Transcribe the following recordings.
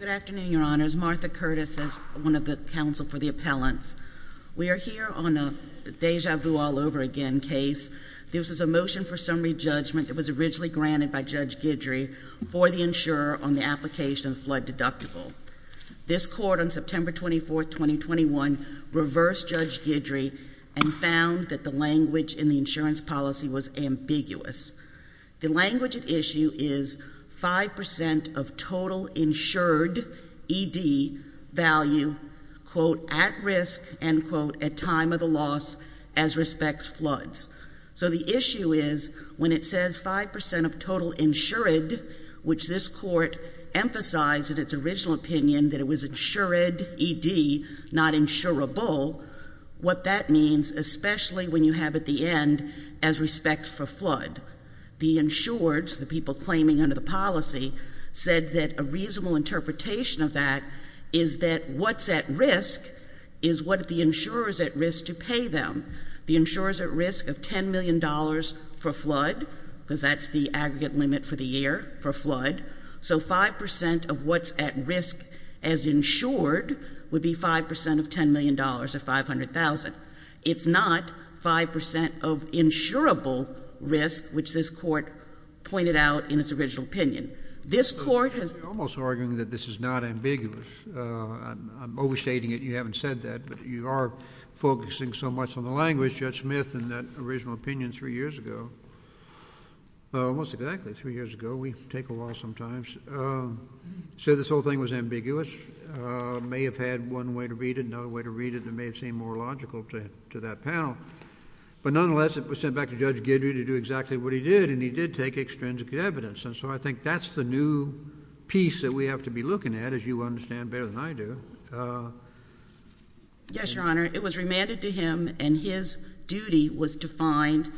Good afternoon, Your Honors. Martha Curtis is one of the counsel for the appellants. We are here on a Deja Vu All Over Again case. This is a motion for summary judgment that was originally granted by Judge Guidry for the insurer on the application of flood deductible. This court on September 24, 2021 reversed Judge Guidry and found that the language in the insurance policy was ambiguous. The language at issue is 5% of total insured ED value quote at risk end quote at time of the loss as respects floods. So the issue is when it says 5% of total insured, which this court emphasized in its original opinion that it was insured ED, not insurable, what that means, especially when you have at the end as respects for flood. The insured, the people claiming under the policy, said that a reasonable interpretation of that is that what's at risk is what the insurer is at risk to pay them. The insurer is at risk of $10 million for flood, because that's the aggregate limit for the year for flood. So 5% of what's at risk as insured would be 5% of $10 million or $500,000. It's not 5% of insurable risk, which this court pointed out in its original opinion. This court has JUSTICE KENNEDY Almost arguing that this is not ambiguous. I'm overstating it. You haven't said that, but you are focusing so much on the language, Judge Smith, in that original opinion three years ago. Almost exactly three years ago. We take a while sometimes. So this whole thing was ambiguous. May have had one way to read it, another way to read it that may have seemed more logical to that panel. But nonetheless, it was sent back to Judge Guidry to do exactly what he did, and he did take extrinsic evidence. And so I think that's the new piece that we have to be looking at, as you understand better than I do. JUSTICE GINSBURG Yes, Your Honor. It was remanded to him, and his duty was to find,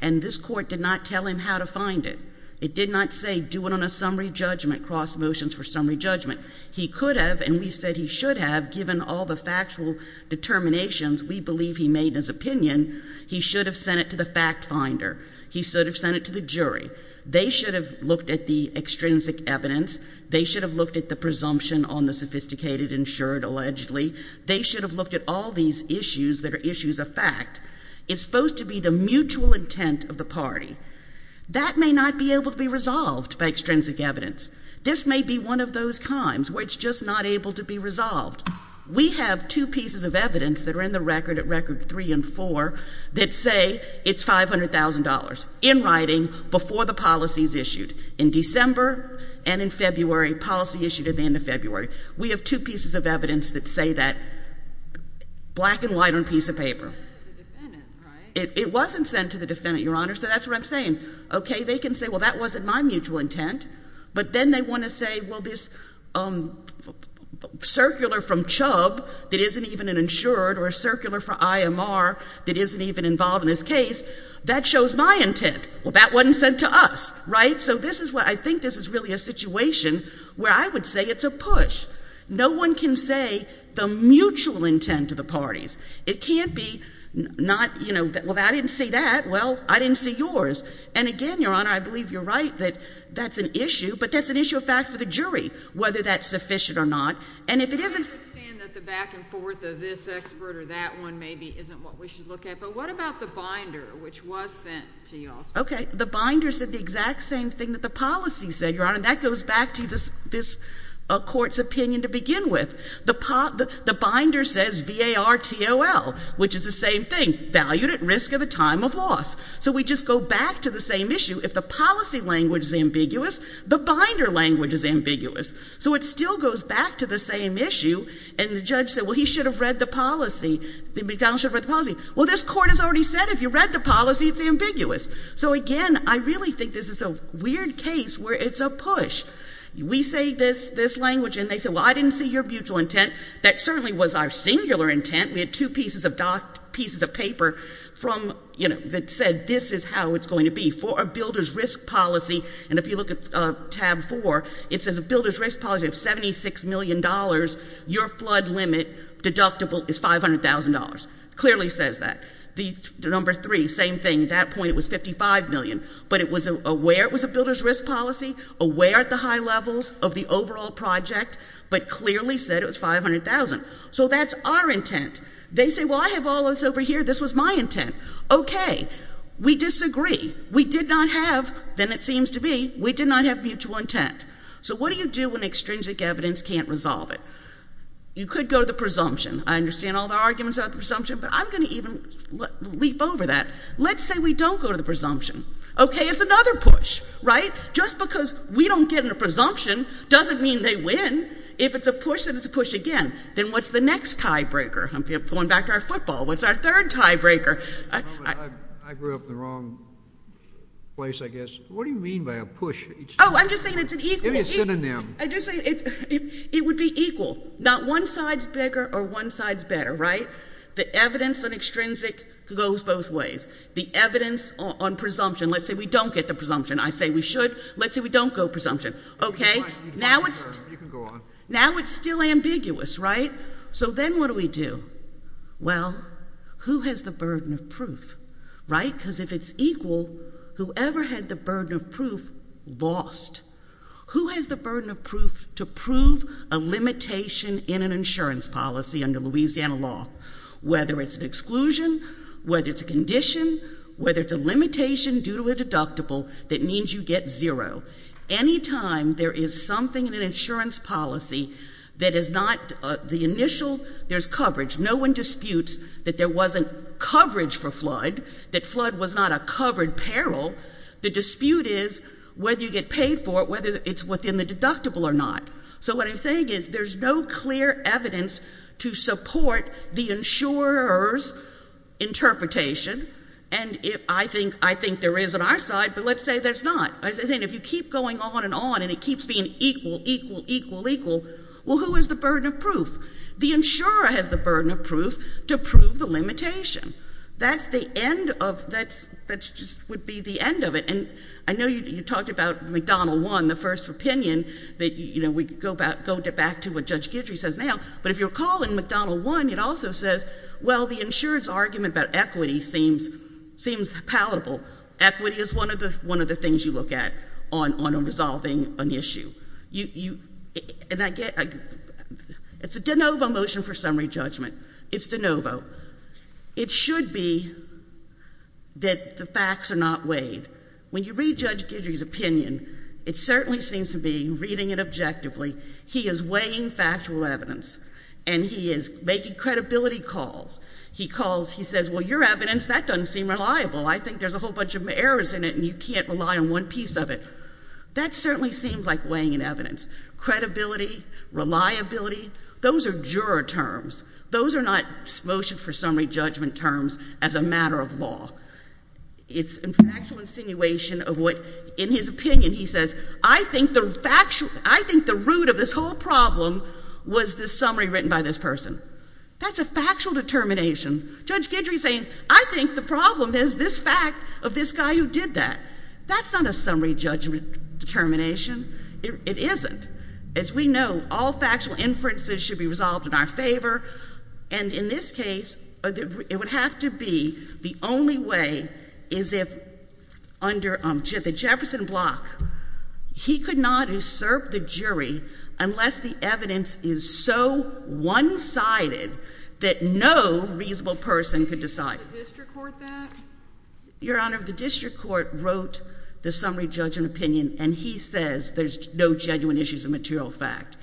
and this court did not tell him how to find it. It did not say do it on a summary judgment, cross motions for summary judgment. He could have, and we said he should have, given all the factual determinations we believe he made in his opinion, he should have sent it to the fact finder. He should have sent it to the jury. They should have looked at the extrinsic evidence that he indicated, ensured, allegedly. They should have looked at all these issues that are issues of fact. It's supposed to be the mutual intent of the party. That may not be able to be resolved by extrinsic evidence. This may be one of those times where it's just not able to be resolved. We have two pieces of evidence that are in the record at record three and four that say it's $500,000, in writing, before the policy is issued. In fact, we have two pieces of evidence that say that, black and white on a piece of paper. It wasn't sent to the defendant, Your Honor, so that's what I'm saying. Okay, they can say, well, that wasn't my mutual intent, but then they want to say, well, this circular from Chubb that isn't even an insured or a circular from IMR that isn't even involved in this case, that shows my intent. Well, that wasn't sent to us, right? So this is I think this is really a situation where I would say it's a push. No one can say the mutual intent of the parties. It can't be not, you know, well, I didn't see that. Well, I didn't see yours. And again, Your Honor, I believe you're right that that's an issue, but that's an issue of fact for the jury, whether that's sufficient or not. And if it isn't — I understand that the back and forth of this expert or that one maybe isn't what we should look at, but what about the binder, which was sent to you also? Okay. The binder said the exact same thing that the policy said, Your Honor, and that goes back to this court's opinion to begin with. The binder says V-A-R-T-O-L, which is the same thing, valued at risk of a time of loss. So we just go back to the same issue. If the policy language is ambiguous, the binder language is ambiguous. So it still goes back to the same issue, and the judge said, well, he should have read the policy, the McDonald should have read the policy. Well, this court has already said if you read the policy, it's So again, I really think this is a weird case where it's a push. We say this language, and they say, well, I didn't see your mutual intent. That certainly was our singular intent. We had two pieces of docked pieces of paper from, you know, that said this is how it's going to be. For a builder's risk policy, and if you look at tab four, it says a builder's risk policy of $76 million, your flood limit deductible is $500,000. Clearly says that. The number three, same thing. At that point, it was $55 million, but it was aware it was a builder's risk policy, aware at the high levels of the overall project, but clearly said it was $500,000. So that's our intent. They say, well, I have all this over here. This was my intent. Okay. We disagree. We did not have, then it seems to be, we did not have mutual intent. So what do you do when extrinsic evidence can't resolve it? You could go to the presumption. I understand all the arguments about the presumption, but I'm going to even leap over that. Let's say we don't go to the presumption. Okay. It's another push, right? Just because we don't get in a presumption doesn't mean they win. If it's a push, then it's a push again. Then what's the next tiebreaker? I'm pulling back to our football. What's our third tiebreaker? I grew up in the wrong place, I guess. What do you mean by a push? Oh, I'm just saying it's an equal. Give me a synonym. I'm just saying the evidence on extrinsic goes both ways. The evidence on presumption. Let's say we don't get the presumption. I say we should. Let's say we don't go presumption. Okay. Now it's still ambiguous, right? So then what do we do? Well, who has the burden of proof? Right? Because if it's equal, whoever had the burden of proof lost. Who has the burden of proof to prove a limitation in an insurance policy under Louisiana law, whether it's an exclusion, whether it's a condition, whether it's a limitation due to a deductible that means you get zero. Anytime there is something in an insurance policy that is not the initial there's coverage. No one disputes that there wasn't coverage for flood, that flood was not a covered peril. The dispute is whether you get paid for it, whether it's within the deductible or not. So what I'm saying is there's no clear evidence to support the insurer's interpretation, and I think there is on our side, but let's say there's not. If you keep going on and on and it keeps being equal, equal, equal, equal, well, who has the burden of proof? The insurer has the burden of proof to prove the limitation. That's the end of that's that's just would be the end of it. And I know you talked about McDonnell 1, the first opinion that you know, we go back go back to what Judge Guidry says now, but if you're calling McDonnell 1, it also says, well, the insurer's argument about equity seems seems palatable. Equity is one of the one of the things you look at on on resolving an issue. You you and I get it's a de novo motion for summary judgment. It's de novo. It should be that the facts are not weighed. When you read Judge Guidry's opinion, it certainly seems to be reading it objectively. He is weighing factual evidence, and he is making credibility calls. He calls, he says, well, your evidence, that doesn't seem reliable. I think there's a whole bunch of errors in it, and you can't rely on one piece of it. That certainly seems like weighing in evidence. Credibility, reliability, those are juror terms. Those are not motion for summary judgment terms as a matter of law. It's a factual insinuation of what, in his opinion, he says, I think the factual, I think the root of this whole problem was this summary written by this person. That's a factual determination. Judge Guidry is saying, I think the problem is this fact of this guy who did that. That's not a summary judgment determination. It isn't. As we know, all factual inferences should be resolved in our favor, and in this case, it would have to be the only way is if, under the Jefferson block, he could not usurp the jury unless the evidence is so one-sided that no reasonable person could decide. Could the district court that? Your Honor, the district court wrote the summary judgment opinion, and he says there's no genuine issues of material fact.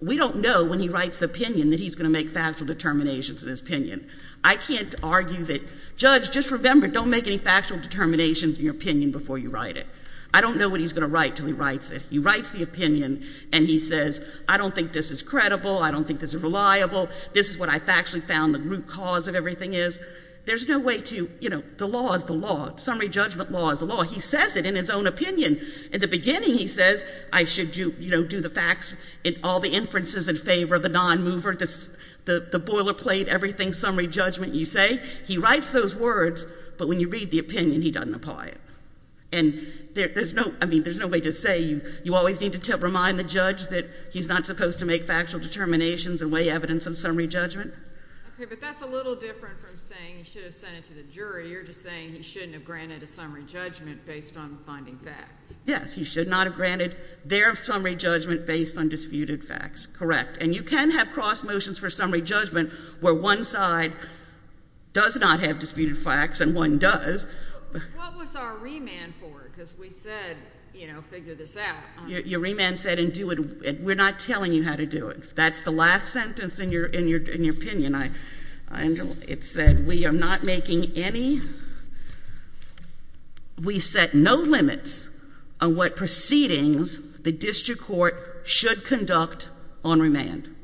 We don't know when he writes the opinion that he's going to make factual determinations in his opinion. I can't argue that, Judge, just remember, don't make any factual determinations in your opinion before you write it. I don't know what he's going to write until he writes it. He writes the opinion, and he says, I don't think this is credible. I don't think this is reliable. This is what I factually found the root cause of everything is. There's no way to, you know, the law is the law. Summary judgment law is the law. He says it in his own opinion. In the beginning, he says, I should, you know, do the facts in all the inferences in favor of the non-mover, the boilerplate, everything summary judgment you say. He writes those words, but when you read the opinion, he doesn't apply it. And there's no, I mean, there's no way to say, you always need to remind the judge that he's not supposed to make factual determinations and weigh evidence in summary judgment. Okay, but that's a little different from saying he should have sent it to the jury. You're just saying he shouldn't have granted a summary judgment based on finding facts. Yes, he should not have granted their summary judgment based on disputed facts. Correct. And you can have cross motions for summary judgment where one side does not have disputed facts and one does. What was our remand for? Because we said, you know, figure this out. Your remand said, and do it, we're not telling you how to do it. That's the last sentence in your opinion. It said, we are not making any, we set no limits on what proceedings the district court should conduct on remand.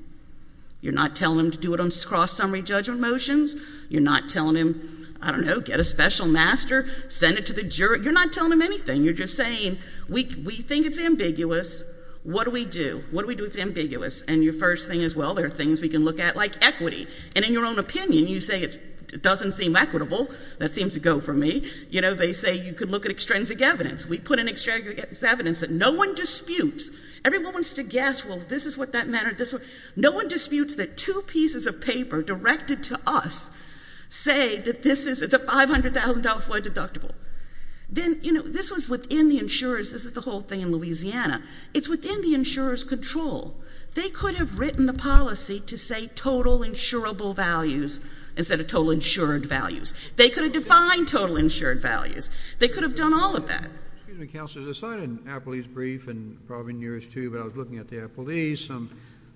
You're not telling them to do it on cross summary judgment motions. You're not telling them, I don't know, get a special master, send it to the jury. You're not telling them anything. You're just saying, we think it's ambiguous. What do we do? What do we do if it's ambiguous? And your first thing is, well, there are things we can look at, like equity. And in your own opinion, you say it doesn't seem equitable. That seems to go for me. You know, they say you can look at extrinsic evidence. We put in extrinsic evidence that no one disputes. Everyone wants to guess, well, this is what that matter, this one. No one disputes that two pieces of paper directed to us say that this is, it's a $500,000 flood deductible. Then, you know, this was within the insurers. This is the whole thing in Louisiana. It's a $500,000 flood deductible. They could have written the policy to say total insurable values instead of total insured values. They could have defined total insured values. They could have done all of that. Excuse me, Counselor. There's a sign in Appleby's brief and probably in yours, too, but I was looking at the Appleby's, some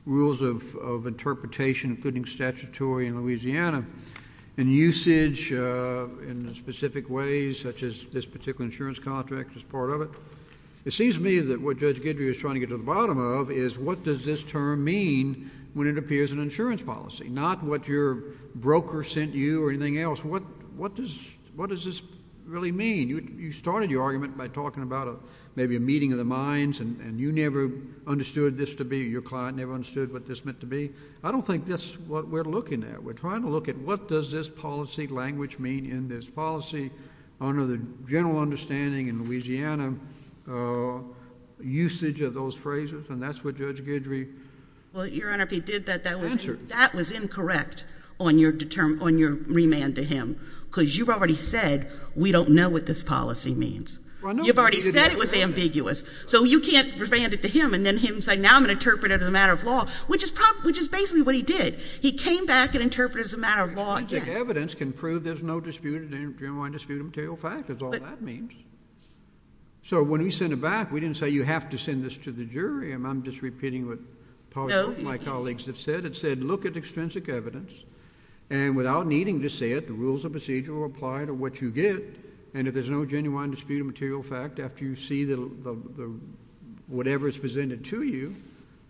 rules of interpretation, including statutory in Louisiana, and usage in specific ways, such as this particular insurance contract is part of it. It seems to me that what Judge Guidry is trying to get to the bottom of is what does this term mean when it appears in an insurance policy, not what your broker sent you or anything else. What does this really mean? You started your argument by talking about maybe a meeting of the minds, and you never understood this to be, your client never understood what this meant to be. I don't think that's what we're looking at. We're trying to look at what does this policy language mean in this policy under the general understanding in Louisiana, usage of those phrases, and that's what Judge Guidry answered. Well, Your Honor, if he did that, that was incorrect on your remand to him, because you've already said we don't know what this policy means. You've already said it was ambiguous. So you can't remand it to him and then him say now I'm going to interpret it as a matter of law, which is basically what he did. He came back and interpreted it as a matter of law again. Extrinsic evidence can prove there's no dispute, genuine dispute of material fact, is all that means. So when we sent it back, we didn't say you have to send this to the jury. I'm just repeating what my colleagues have said. It said look at extrinsic evidence, and without needing to say it, the rules of procedure will apply to what you get, and if there's no genuine dispute of material fact after you see whatever is presented to you,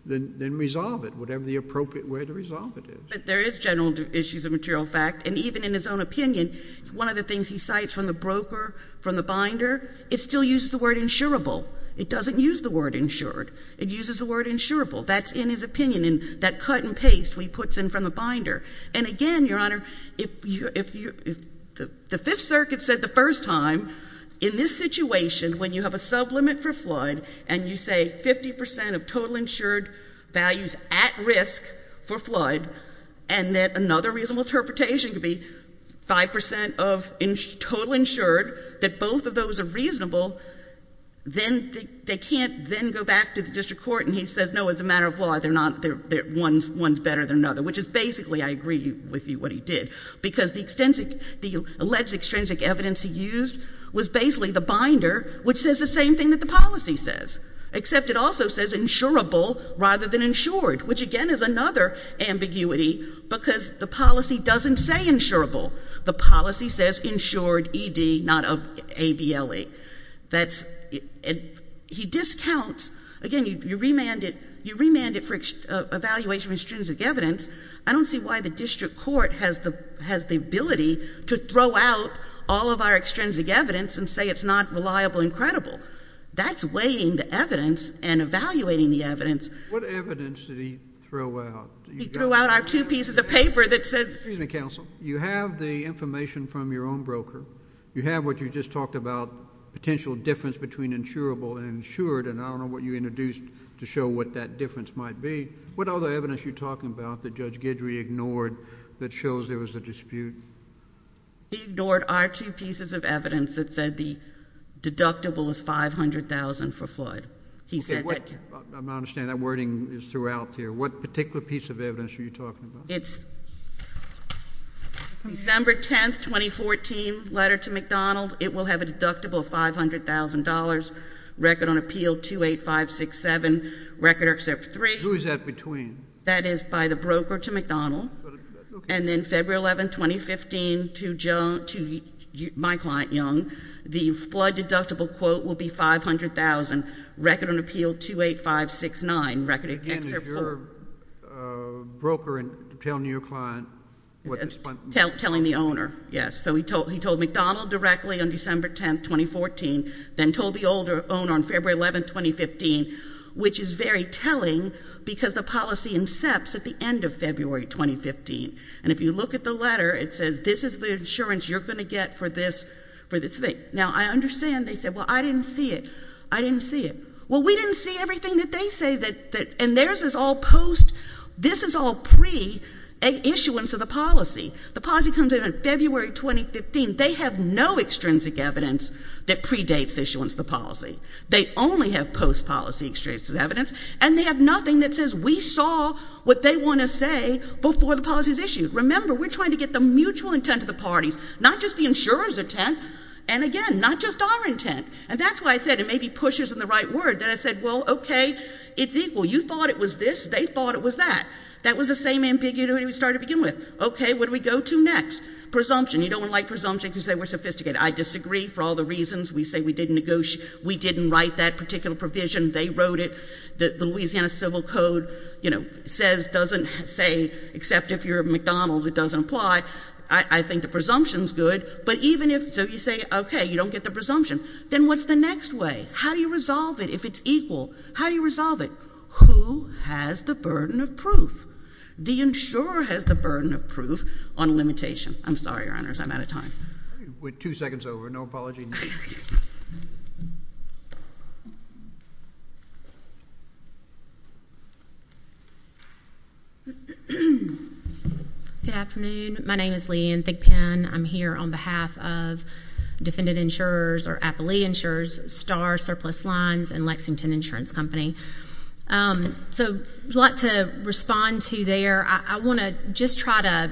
then resolve it, whatever the appropriate way to resolve it is. But there is general issues of material fact, and even in his own opinion, one of the things he cites from the broker, from the binder, it still uses the word insurable. It doesn't use the word insured. It uses the word insurable. That's in his opinion, in that cut and paste he puts in from the binder. And again, Your Honor, if the Fifth Circuit said the first time in this situation when you have a sublimit for flood and you say 50 percent of total risk for flood and that another reasonable interpretation could be 5 percent of total insured, that both of those are reasonable, then they can't then go back to the district court and he says no, as a matter of law, one's better than another, which is basically I agree with you what he did, because the alleged extrinsic evidence he used was basically the binder, which says the same thing that the policy says, except it also says insurable rather than insured, which again is another ambiguity because the policy doesn't say insurable. The policy says insured, E.D., not A.B.L.E. He discounts, again, you remand it for evaluation of extrinsic evidence. I don't see why the district court has the ability to throw out all of our extrinsic evidence and say it's not reliable and credible. That's weighing the evidence and evaluating the evidence. What evidence did he throw out? He threw out our two pieces of paper that said— Excuse me, counsel. You have the information from your own broker. You have what you just talked about, potential difference between insurable and insured, and I don't know what you introduced to show what that difference might be. What other evidence are you talking about that Judge Guidry ignored that shows there was a dispute? He ignored our two pieces of evidence that said the deductible was $500,000 for flood. He said that— Okay. I'm not understanding. That wording is throughout here. What particular piece of evidence are you talking about? It's December 10, 2014, letter to McDonald. It will have a deductible of $500,000, record on appeal 28567, record except for three— Who is that between? That is by the broker to McDonald, and then February 11, 2015, to my client, Young. The flood deductible quote will be $500,000, record on appeal 28569, record except for— Again, it's your broker telling your client what the— Telling the owner, yes. So he told McDonald directly on December 10, 2014, then told the owner on February 11, 2015, which is very telling because the policy incepts at the end of February 2015. And if you look at the letter, it says this is the insurance you're going to get for this thing. Now, I understand they said, well, I didn't see it. I didn't see it. Well, we didn't see everything that they say that— And theirs is all post— This is all pre-issuance of the policy. The policy comes in February 2015. They have no extrinsic evidence that predates issuance of the policy. They only have post-policy extrinsic evidence, and they have nothing that says we saw what they want to say before the policy was issued. Remember, we're trying to get the mutual intent of the parties, not just the insurer's intent, and again, not just our intent. And that's why I said it may be pushers in the right word. Then I said, well, okay, it's equal. You thought it was this. They thought it was that. That was the same ambiguity we started to begin with. Okay, what do we go to next? Presumption. You don't want to like presumption because they were sophisticated. I disagree for all the reasons. We say we didn't write that particular provision. They wrote it. The Louisiana Civil Code says, doesn't say, except if you're McDonald's, it doesn't apply. I think the presumption's good, but even if— So you say, okay, you don't get the presumption. Then what's the next way? How do you resolve it if it's equal? How do you resolve it? Who has the burden of proof? The insurer has the burden of proof on limitation. I'm sorry, Your Honors, I'm out of time. We're two seconds over. No apology. Good afternoon. My name is Leigh Ann Thigpen. I'm here on behalf of defendant insurers or the insurance company. So a lot to respond to there. I want to just try to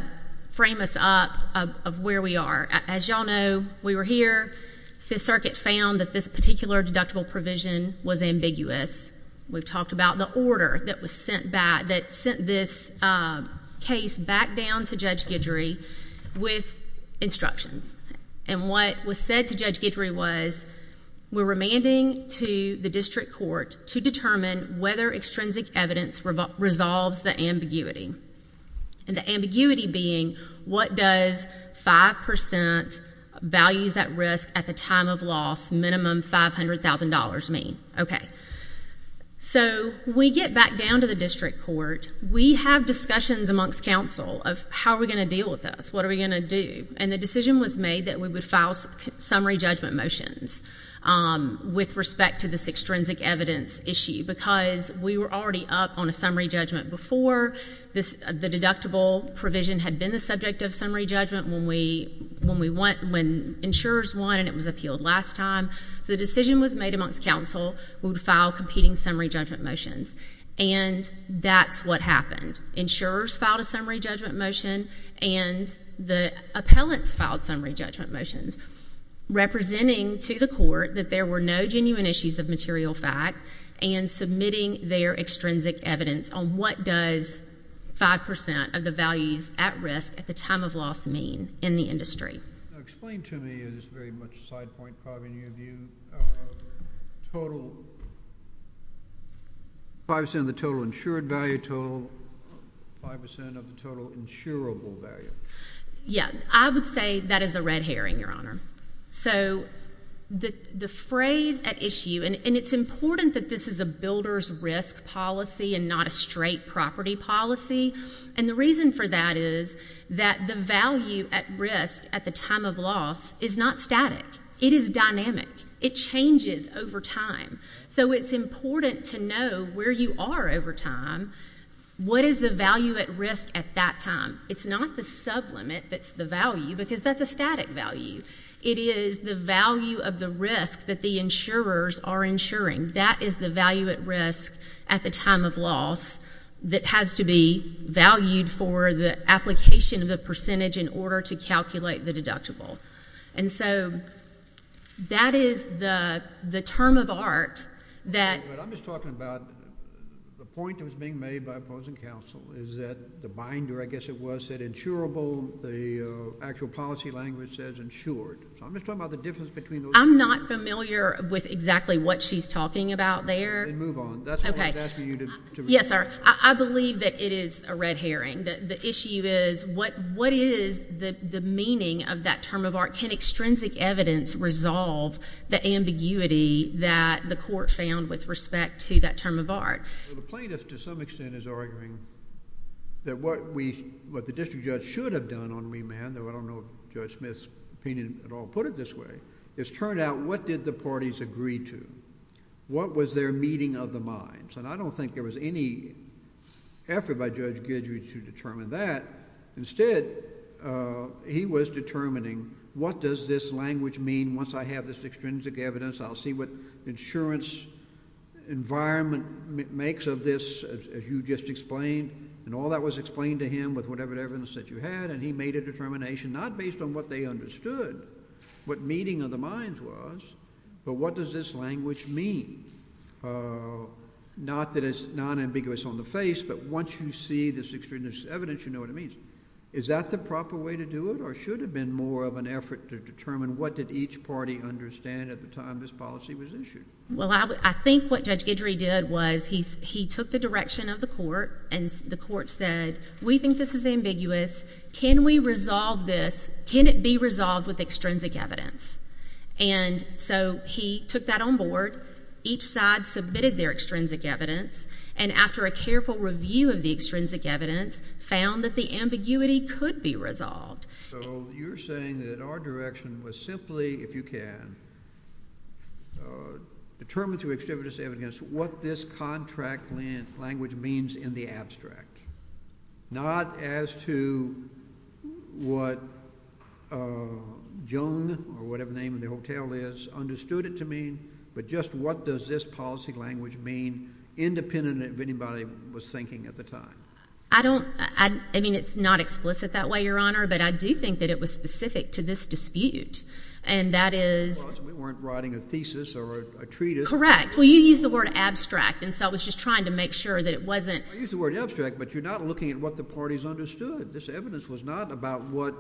frame us up of where we are. As you all know, we were here. Fifth Circuit found that this particular deductible provision was ambiguous. We've talked about the order that was sent back, that sent this case back down to Judge Guidry with instructions. And what was said to Judge Guidry was, we're going to go to the district court to determine whether extrinsic evidence resolves the ambiguity. And the ambiguity being, what does 5% values at risk at the time of loss, minimum $500,000 mean? Okay. So we get back down to the district court. We have discussions amongst counsel of how are we going to deal with this? What are we going to do? And the decision was made that we would file summary judgment motions with respect to this extrinsic evidence issue, because we were already up on a summary judgment before. The deductible provision had been the subject of summary judgment when insurers won and it was appealed last time. So the decision was made amongst counsel. We would file competing summary judgment motions. And that's what happened. Insurers filed a summary judgment motion, and the appellants filed summary judgment motions, representing to the court that there were no genuine issues of material fact, and submitting their extrinsic evidence on what does 5% of the values at risk at the time of loss mean in the industry. Explain to me is very much a side point, probably in your view, total 5% of the total insured value, total 5% of the total insurable value. Yeah. I would say that is a red herring, Your Honor. So the phrase at issue, and it's important that this is a builder's risk policy and not a straight property policy. And the reason for that is that the value at risk at the time of loss is not static. It is dynamic. It changes over time. So it's important to know where you are over time. What is the value at risk at that time? It's not the sublimit that's the value, because that's a static value. It is the value of the risk that the insurers are insuring. That is the value at risk at the time of loss that has to be valued for the application of the percentage in order to calculate the deductible. And so that is the term of art that—I'm just talking about the point that was being made by opposing counsel, the actual policy language says insured. So I'm just talking about the difference between those two. I'm not familiar with exactly what she's talking about there. Then move on. That's why I was asking you to—Yes, sir. I believe that it is a red herring. The issue is what is the meaning of that term of art? Can extrinsic evidence resolve the ambiguity that the court found with respect to that term of art? Well, the plaintiff to some extent is arguing that what we—what the district judge should have done on remand, though I don't know if Judge Smith's opinion at all put it this way, is turn it out what did the parties agree to? What was their meeting of the minds? And I don't think there was any effort by Judge Guidry to determine that. Instead, he was determining what does this language mean once I have this extrinsic evidence? I'll see what insurance environment makes of this, as you just explained, and all that was explained to him with whatever evidence that you had, and he made a determination not based on what they understood, what meeting of the minds was, but what does this language mean? Not that it's nonambiguous on the face, but once you see this extrinsic evidence, you know what it means. Is that the proper way to do it, or should it have been more of an effort to determine what did each party understand at the time this policy was issued? Well, I think what Judge Guidry did was he took the direction of the court, and the court said, we think this is ambiguous. Can we resolve this? Can it be resolved with extrinsic evidence? And so he took that on board. Each side submitted their extrinsic evidence, and after a careful review of the extrinsic evidence found that the ambiguity could be resolved. So you're saying that our direction was simply, if you can, determine through extrinsic evidence what this contract language means in the abstract. Not as to what Jung, or whatever the name of the hotel is, understood it to mean, but just what does this policy language mean, independent of anybody was thinking at the time? I don't, I mean, it's not explicit that way, Your Honor, but I do think that it was specific to this dispute, and that is. We weren't writing a thesis or a treatise. Correct. Well, you used the word abstract, and so I was just trying to make sure that it wasn't. I used the word abstract, but you're not looking at what the parties understood. This evidence was not about what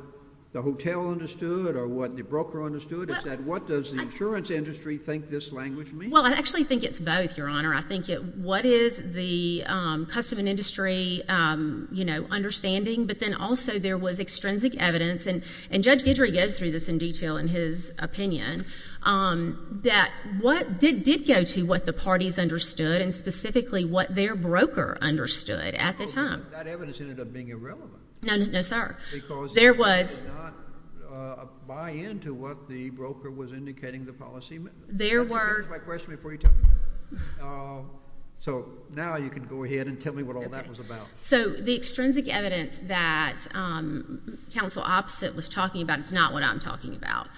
the hotel understood, or what the broker understood. It's that what does the insurance industry think this language means? Well, I actually think it's both, Your Honor. I think it, what is the customer and industry, you know, understanding, but then also there was extrinsic evidence, and Judge Guidry goes through this in detail in his opinion, that what did go to what the parties understood, and specifically what their broker understood at the time. Oh, but that evidence ended up being irrelevant. No, sir. Because there was. Because you did not buy into what the broker was indicating the policy meant. There were. Let me finish my question before you tell me. So now you can go ahead and tell me what all that was about. Okay. So the extrinsic evidence that Counsel Opposite was talking about is not what I'm talking about.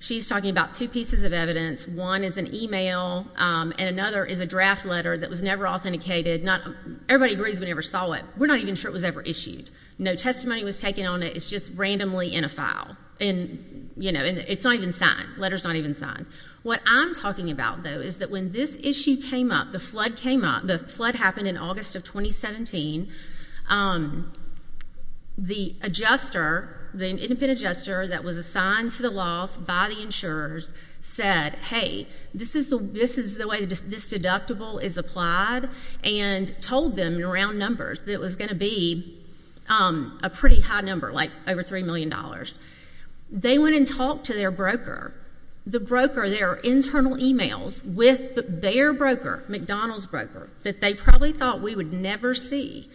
She's talking about two pieces of evidence. One is an email, and another is a draft letter that was never authenticated. Not, everybody agrees we never saw it. We're not even sure it was ever issued. No testimony was taken on it. It's just randomly in a file. And, you know, it's not even signed. The letter's not even signed. What I'm talking about, though, is that when this issue came up, the flood happened in August of 2017. The adjuster, the independent adjuster that was assigned to the loss by the insurers said, hey, this is the way this deductible is applied, and told them in round numbers that it was going to be a pretty high number, like over $3 million. They went and talked to their broker. The broker, their internal emails with their broker, McDonald's broker, that they probably thought we would never see,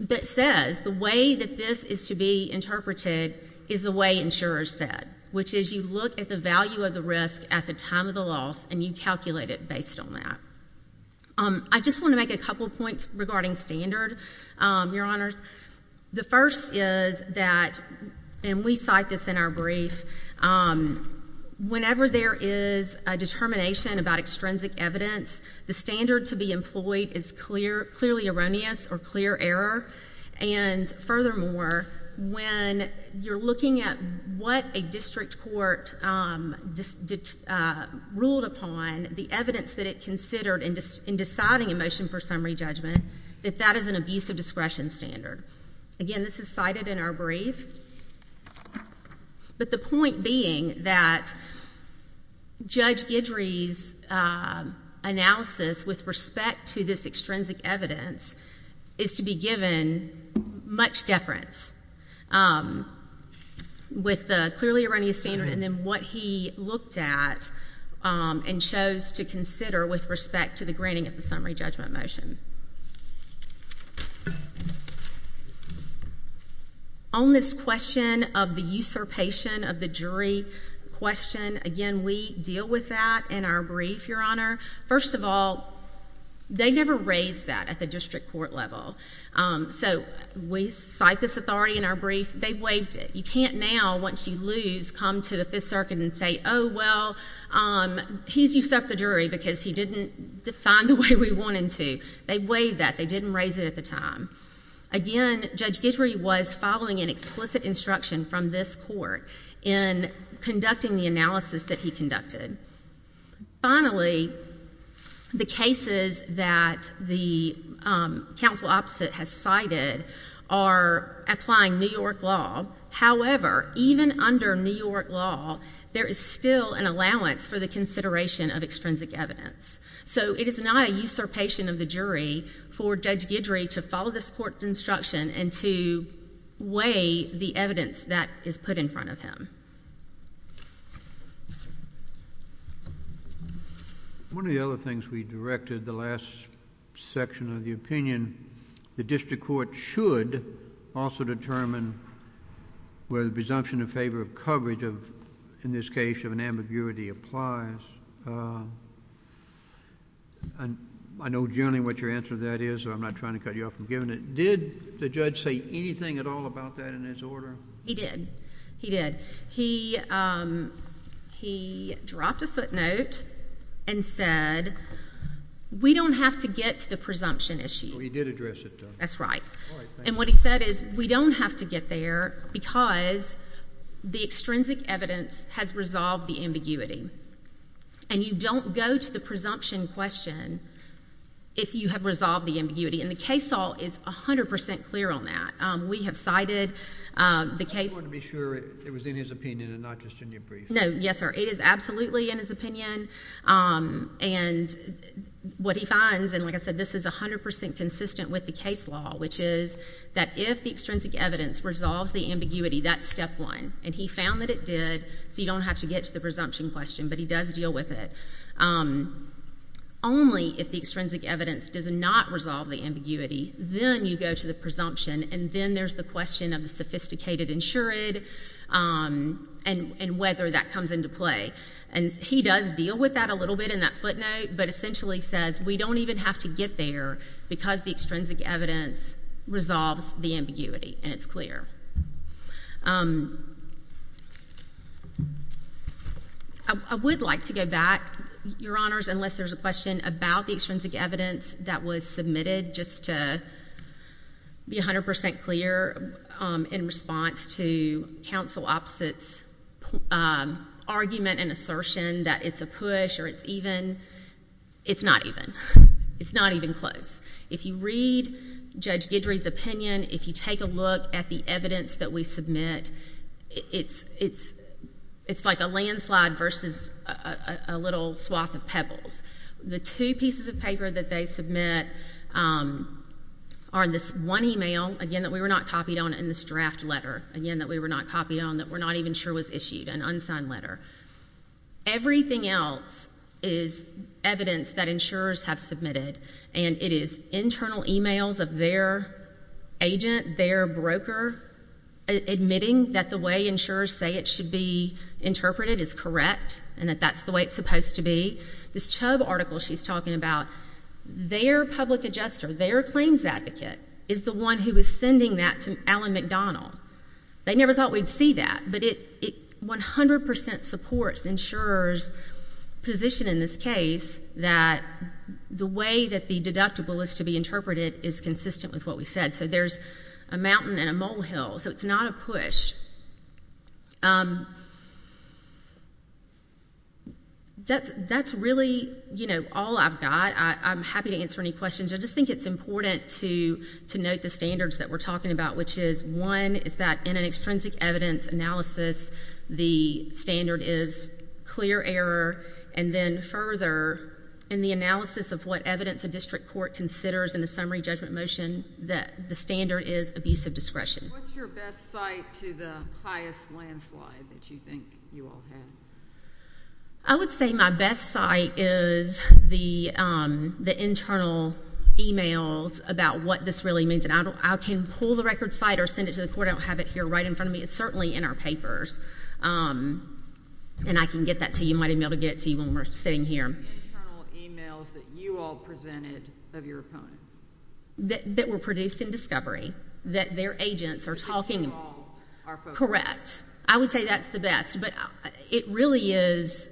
that says the way that this is to be interpreted is the way insurers said, which is you look at the value of the risk at the time of the loss, and you calculate it based on that. I just want to make a couple points regarding standard, Your Honor. The first is that, and we cite this in our brief, whenever there is a determination about extrinsic evidence, the standard to be employed is clearly erroneous or clear error. And furthermore, when you're looking at what a district court ruled upon, the evidence that it considered in deciding a motion for summary judgment, that that is an abuse of discretion standard. Again, this is cited in our brief. But the point being that Judge Guidry's analysis with respect to this extrinsic evidence is to be given much deference with the clearly erroneous standard and then what he looked at and chose to consider with respect to the granting of the summary judgment motion. On this question of the usurpation of the jury question, again, we deal with that in our brief, Your Honor. First of all, they never raised that at the district court level. So we cite this authority in our brief. They've waived it. You can't now, once you lose, come to the Fifth Circuit and say, oh, well, he's usurped the jury because he didn't define the way we wanted to. They waived that. They didn't raise it at the time. Again, Judge Guidry was following an explicit instruction from this court in conducting the analysis that he conducted. Finally, the cases that the counsel opposite has cited are applying New York law. However, even under New York law, there is still an allowance for the consideration of extrinsic evidence. So it is not a usurpation of the jury for Judge Guidry to follow this court's instruction and to weigh the evidence that is put in front of him. One of the other things we directed, the last section of the opinion, the district court should also determine whether the presumption in favor of coverage of, in this case, of the defendant is not a presumption. The judge also said, and I know generally what your answer to that is, so I'm not trying to cut you off from giving it. Did the judge say anything at all about that in his order? He did. He did. He dropped a footnote and said, we don't have to get to the presumption issue. He did address it, though. That's right. And what he said is, we don't have to get there because the extrinsic evidence has resolved the ambiguity. And you don't go to the presumption question if you have resolved the ambiguity. And the case law is 100% clear on that. We have cited the case law. I just want to be sure it was in his opinion and not just in your brief. No. Yes, sir. It is absolutely in his opinion. And what he finds, and like I said, this is 100% consistent with the case law, which is that if the extrinsic evidence resolves the ambiguity, that's step one. And he found that it did, so you don't have to get to the presumption question. But he does deal with it. Only if the extrinsic evidence does not resolve the ambiguity, then you go to the presumption, and then there's the question of the sophisticated insured and whether that comes into play. And he does deal with that a little bit in that footnote, but essentially says, we don't even have to get there because the extrinsic evidence resolves the ambiguity, and it's clear. I would like to go back, Your Honors, unless there's a question about the extrinsic evidence that was submitted, just to be 100% clear in response to counsel opposite's argument and assertion that it's a push or it's even. It's not even. It's not even close. If you read Judge Guidry's opinion, if you take a look at the evidence that we submit, it's like a landslide versus a little swath of pebbles. The two pieces of paper that they submit are this one email, again, that we were not copied on, and this draft letter, again, that we were not copied on, that we're not even sure was issued, an unsigned letter. Everything else is evidence that insurers have submitted, and it is internal emails of their agent, their broker, admitting that the way insurers say it should be interpreted is correct and that that's the way it's supposed to be. This Chubb article she's talking about, their public adjuster, their claims advocate is the one who was sending that to Alan McDonald. They never thought we'd see that, but 100% support insurers' position in this case that the way that the deductible is to be interpreted is consistent with what we said, so there's a mountain and a molehill, so it's not a push. That's really all I've got. I'm happy to answer any questions. I just think it's important to note the standards that we're talking about, which is, one, is that in an extrinsic evidence analysis, the standard is clear error, and then further, in the analysis of what evidence a district court considers in a summary judgment motion, that the standard is abusive discretion. What's your best site to the highest landslide that you think you all have? I would say my best site is the internal emails about what this really means, and I can pull the record site or send it to the court. I don't have it here right in front of me. It's certainly in our papers, and I can get that to you. You might be able to get it to you when we're sitting here. The internal emails that you all presented of your opponents. That were produced in discovery, that their agents are talking about. Correct. I would say that's the best, but it really is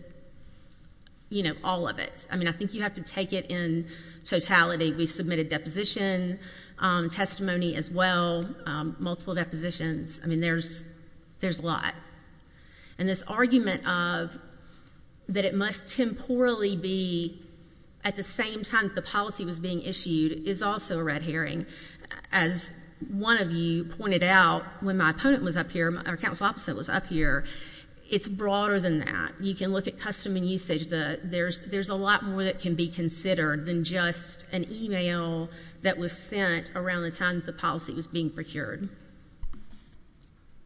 all of it. I mean, I don't think you have to take it in totality. We submitted deposition testimony as well, multiple depositions. I mean, there's a lot. And this argument of that it must temporally be at the same time that the policy was being issued is also a red herring. As one of you pointed out, when my opponent was up here, our counsel opposite was up here, it's broader than that. You can look at custom and usage. There's a lot more that can be considered than just an email that was sent around the time that the policy was being procured.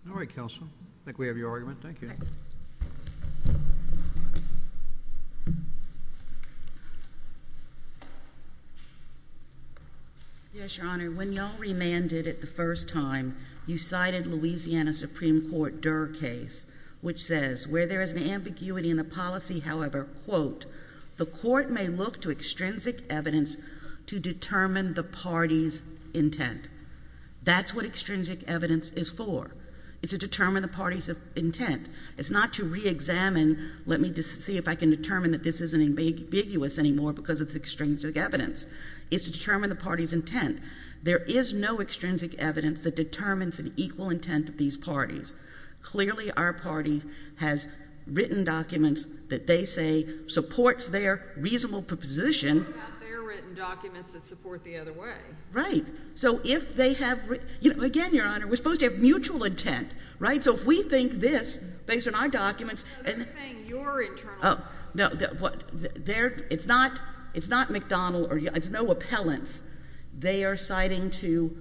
All right, counsel. I think we have your argument. Thank you. Yes, Your Honor. When you all remanded it the first time, you cited Louisiana Supreme Court Durr case, which says, where there is an ambiguity in the policy, however, quote, the court may look to extrinsic evidence to determine the party's intent. That's what extrinsic evidence is for. It's to determine the party's intent. It's not to reexamine, let me see if I can determine that this isn't ambiguous anymore because it's extrinsic evidence. It's to determine the party's intent. There is no extrinsic evidence that determines an equal intent of these parties. Clearly, our party has written documents that they say supports their reasonable proposition. They have their written documents that support the other way. Right. So if they have, you know, again, Your Honor, we're supposed to have mutual intent, right? So if we think this, based on our documents, and No, they're saying your internal Oh, no, what, they're, it's not, it's not McDonald or, it's no appellants. They are citing to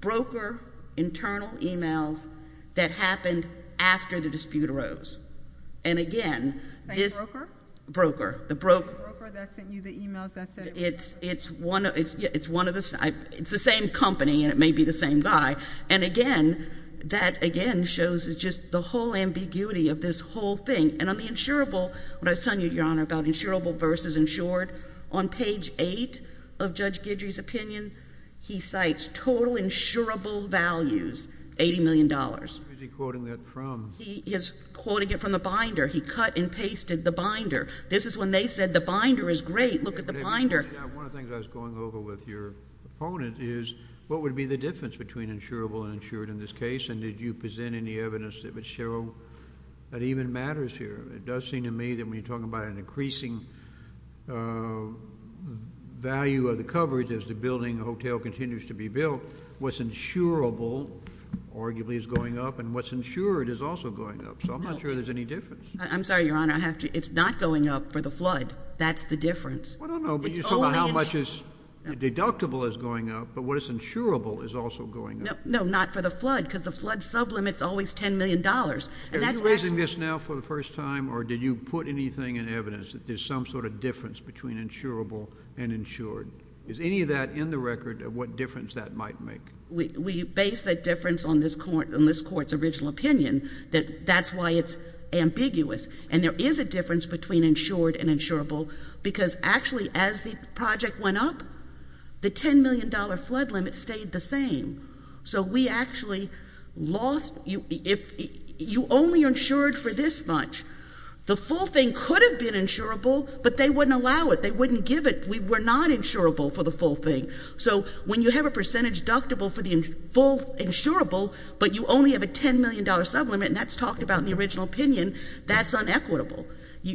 broker internal emails that happened after the dispute arose. And again, Broker? Broker. The broker. The broker that sent you the emails that said It's, it's one of the, it's the same company and it may be the same guy. And again, that again shows just the whole ambiguity of this whole thing. And on the insurable, what I was telling you, Your Honor, about insurable versus insured, on page eight of Judge Guidry's opinion, he cites total insurable values, $80 million. Where is he quoting that from? He is quoting it from the binder. He cut and pasted the binder. This is when they said the binder is great. Look at the binder. One of the things I was going over with your opponent is what would be the difference between insurable and insured in this case? And did you present any evidence that would show that even matters here? It does seem to me that when you're talking about an increasing value of the coverage as the building, the hotel continues to be built, what's insurable arguably is going up and what's insured is also going up. So I'm not sure there's any difference. I'm sorry, Your Honor. I have to, it's not going up for the flood. That's the difference. Well, I don't know, but you said how much is deductible is going up, but what is insurable is also going up. No, not for the flood because the flood sublimits always $10 million. And that's actually Are you raising this now for the first time or did you put anything in evidence that there's some sort of difference between insurable and insured? Is any of that in the record of what difference that might make? We base that difference on this Court's original opinion that that's why it's ambiguous. And there is a difference between insured and insurable because actually as the project went up, the $10 million flood limit stayed the same. So we actually lost, you only insured for this much. The full thing could have been insurable, but they wouldn't allow it. They wouldn't give it. We were not insurable for the full thing. So when you have a percentage deductible for the full insurable, but you only have a $10 million sublimit, and that's talked about in the original opinion, that's unequitable,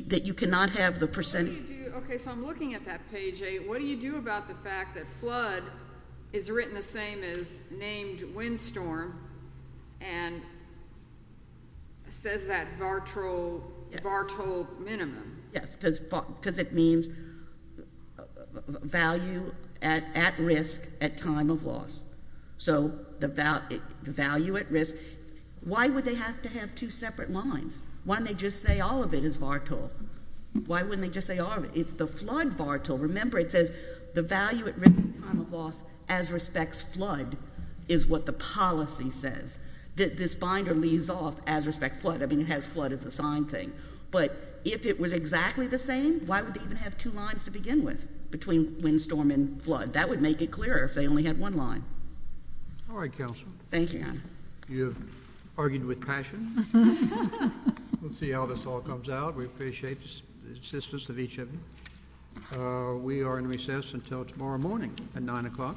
that you cannot have the percentage What do you do, okay, so I'm looking at that page 8. What do you do about the fact that flood is written the same as named windstorm and says that VARTOL minimum? Yes, because it means value at risk at time of loss. So the value at risk, why would they have to have two separate lines? Why don't they just say all of it is VARTOL? Why wouldn't respect flood is what the policy says. This binder leaves off as respect flood. I mean, it has flood as a signed thing. But if it was exactly the same, why would they even have two lines to begin with between windstorm and flood? That would make it clearer if they only had one line. All right, Council. Thank you. You've argued with passion. We'll see how this all comes out. We appreciate the assistance of each of you. We are in recess until tomorrow morning at nine o'clock.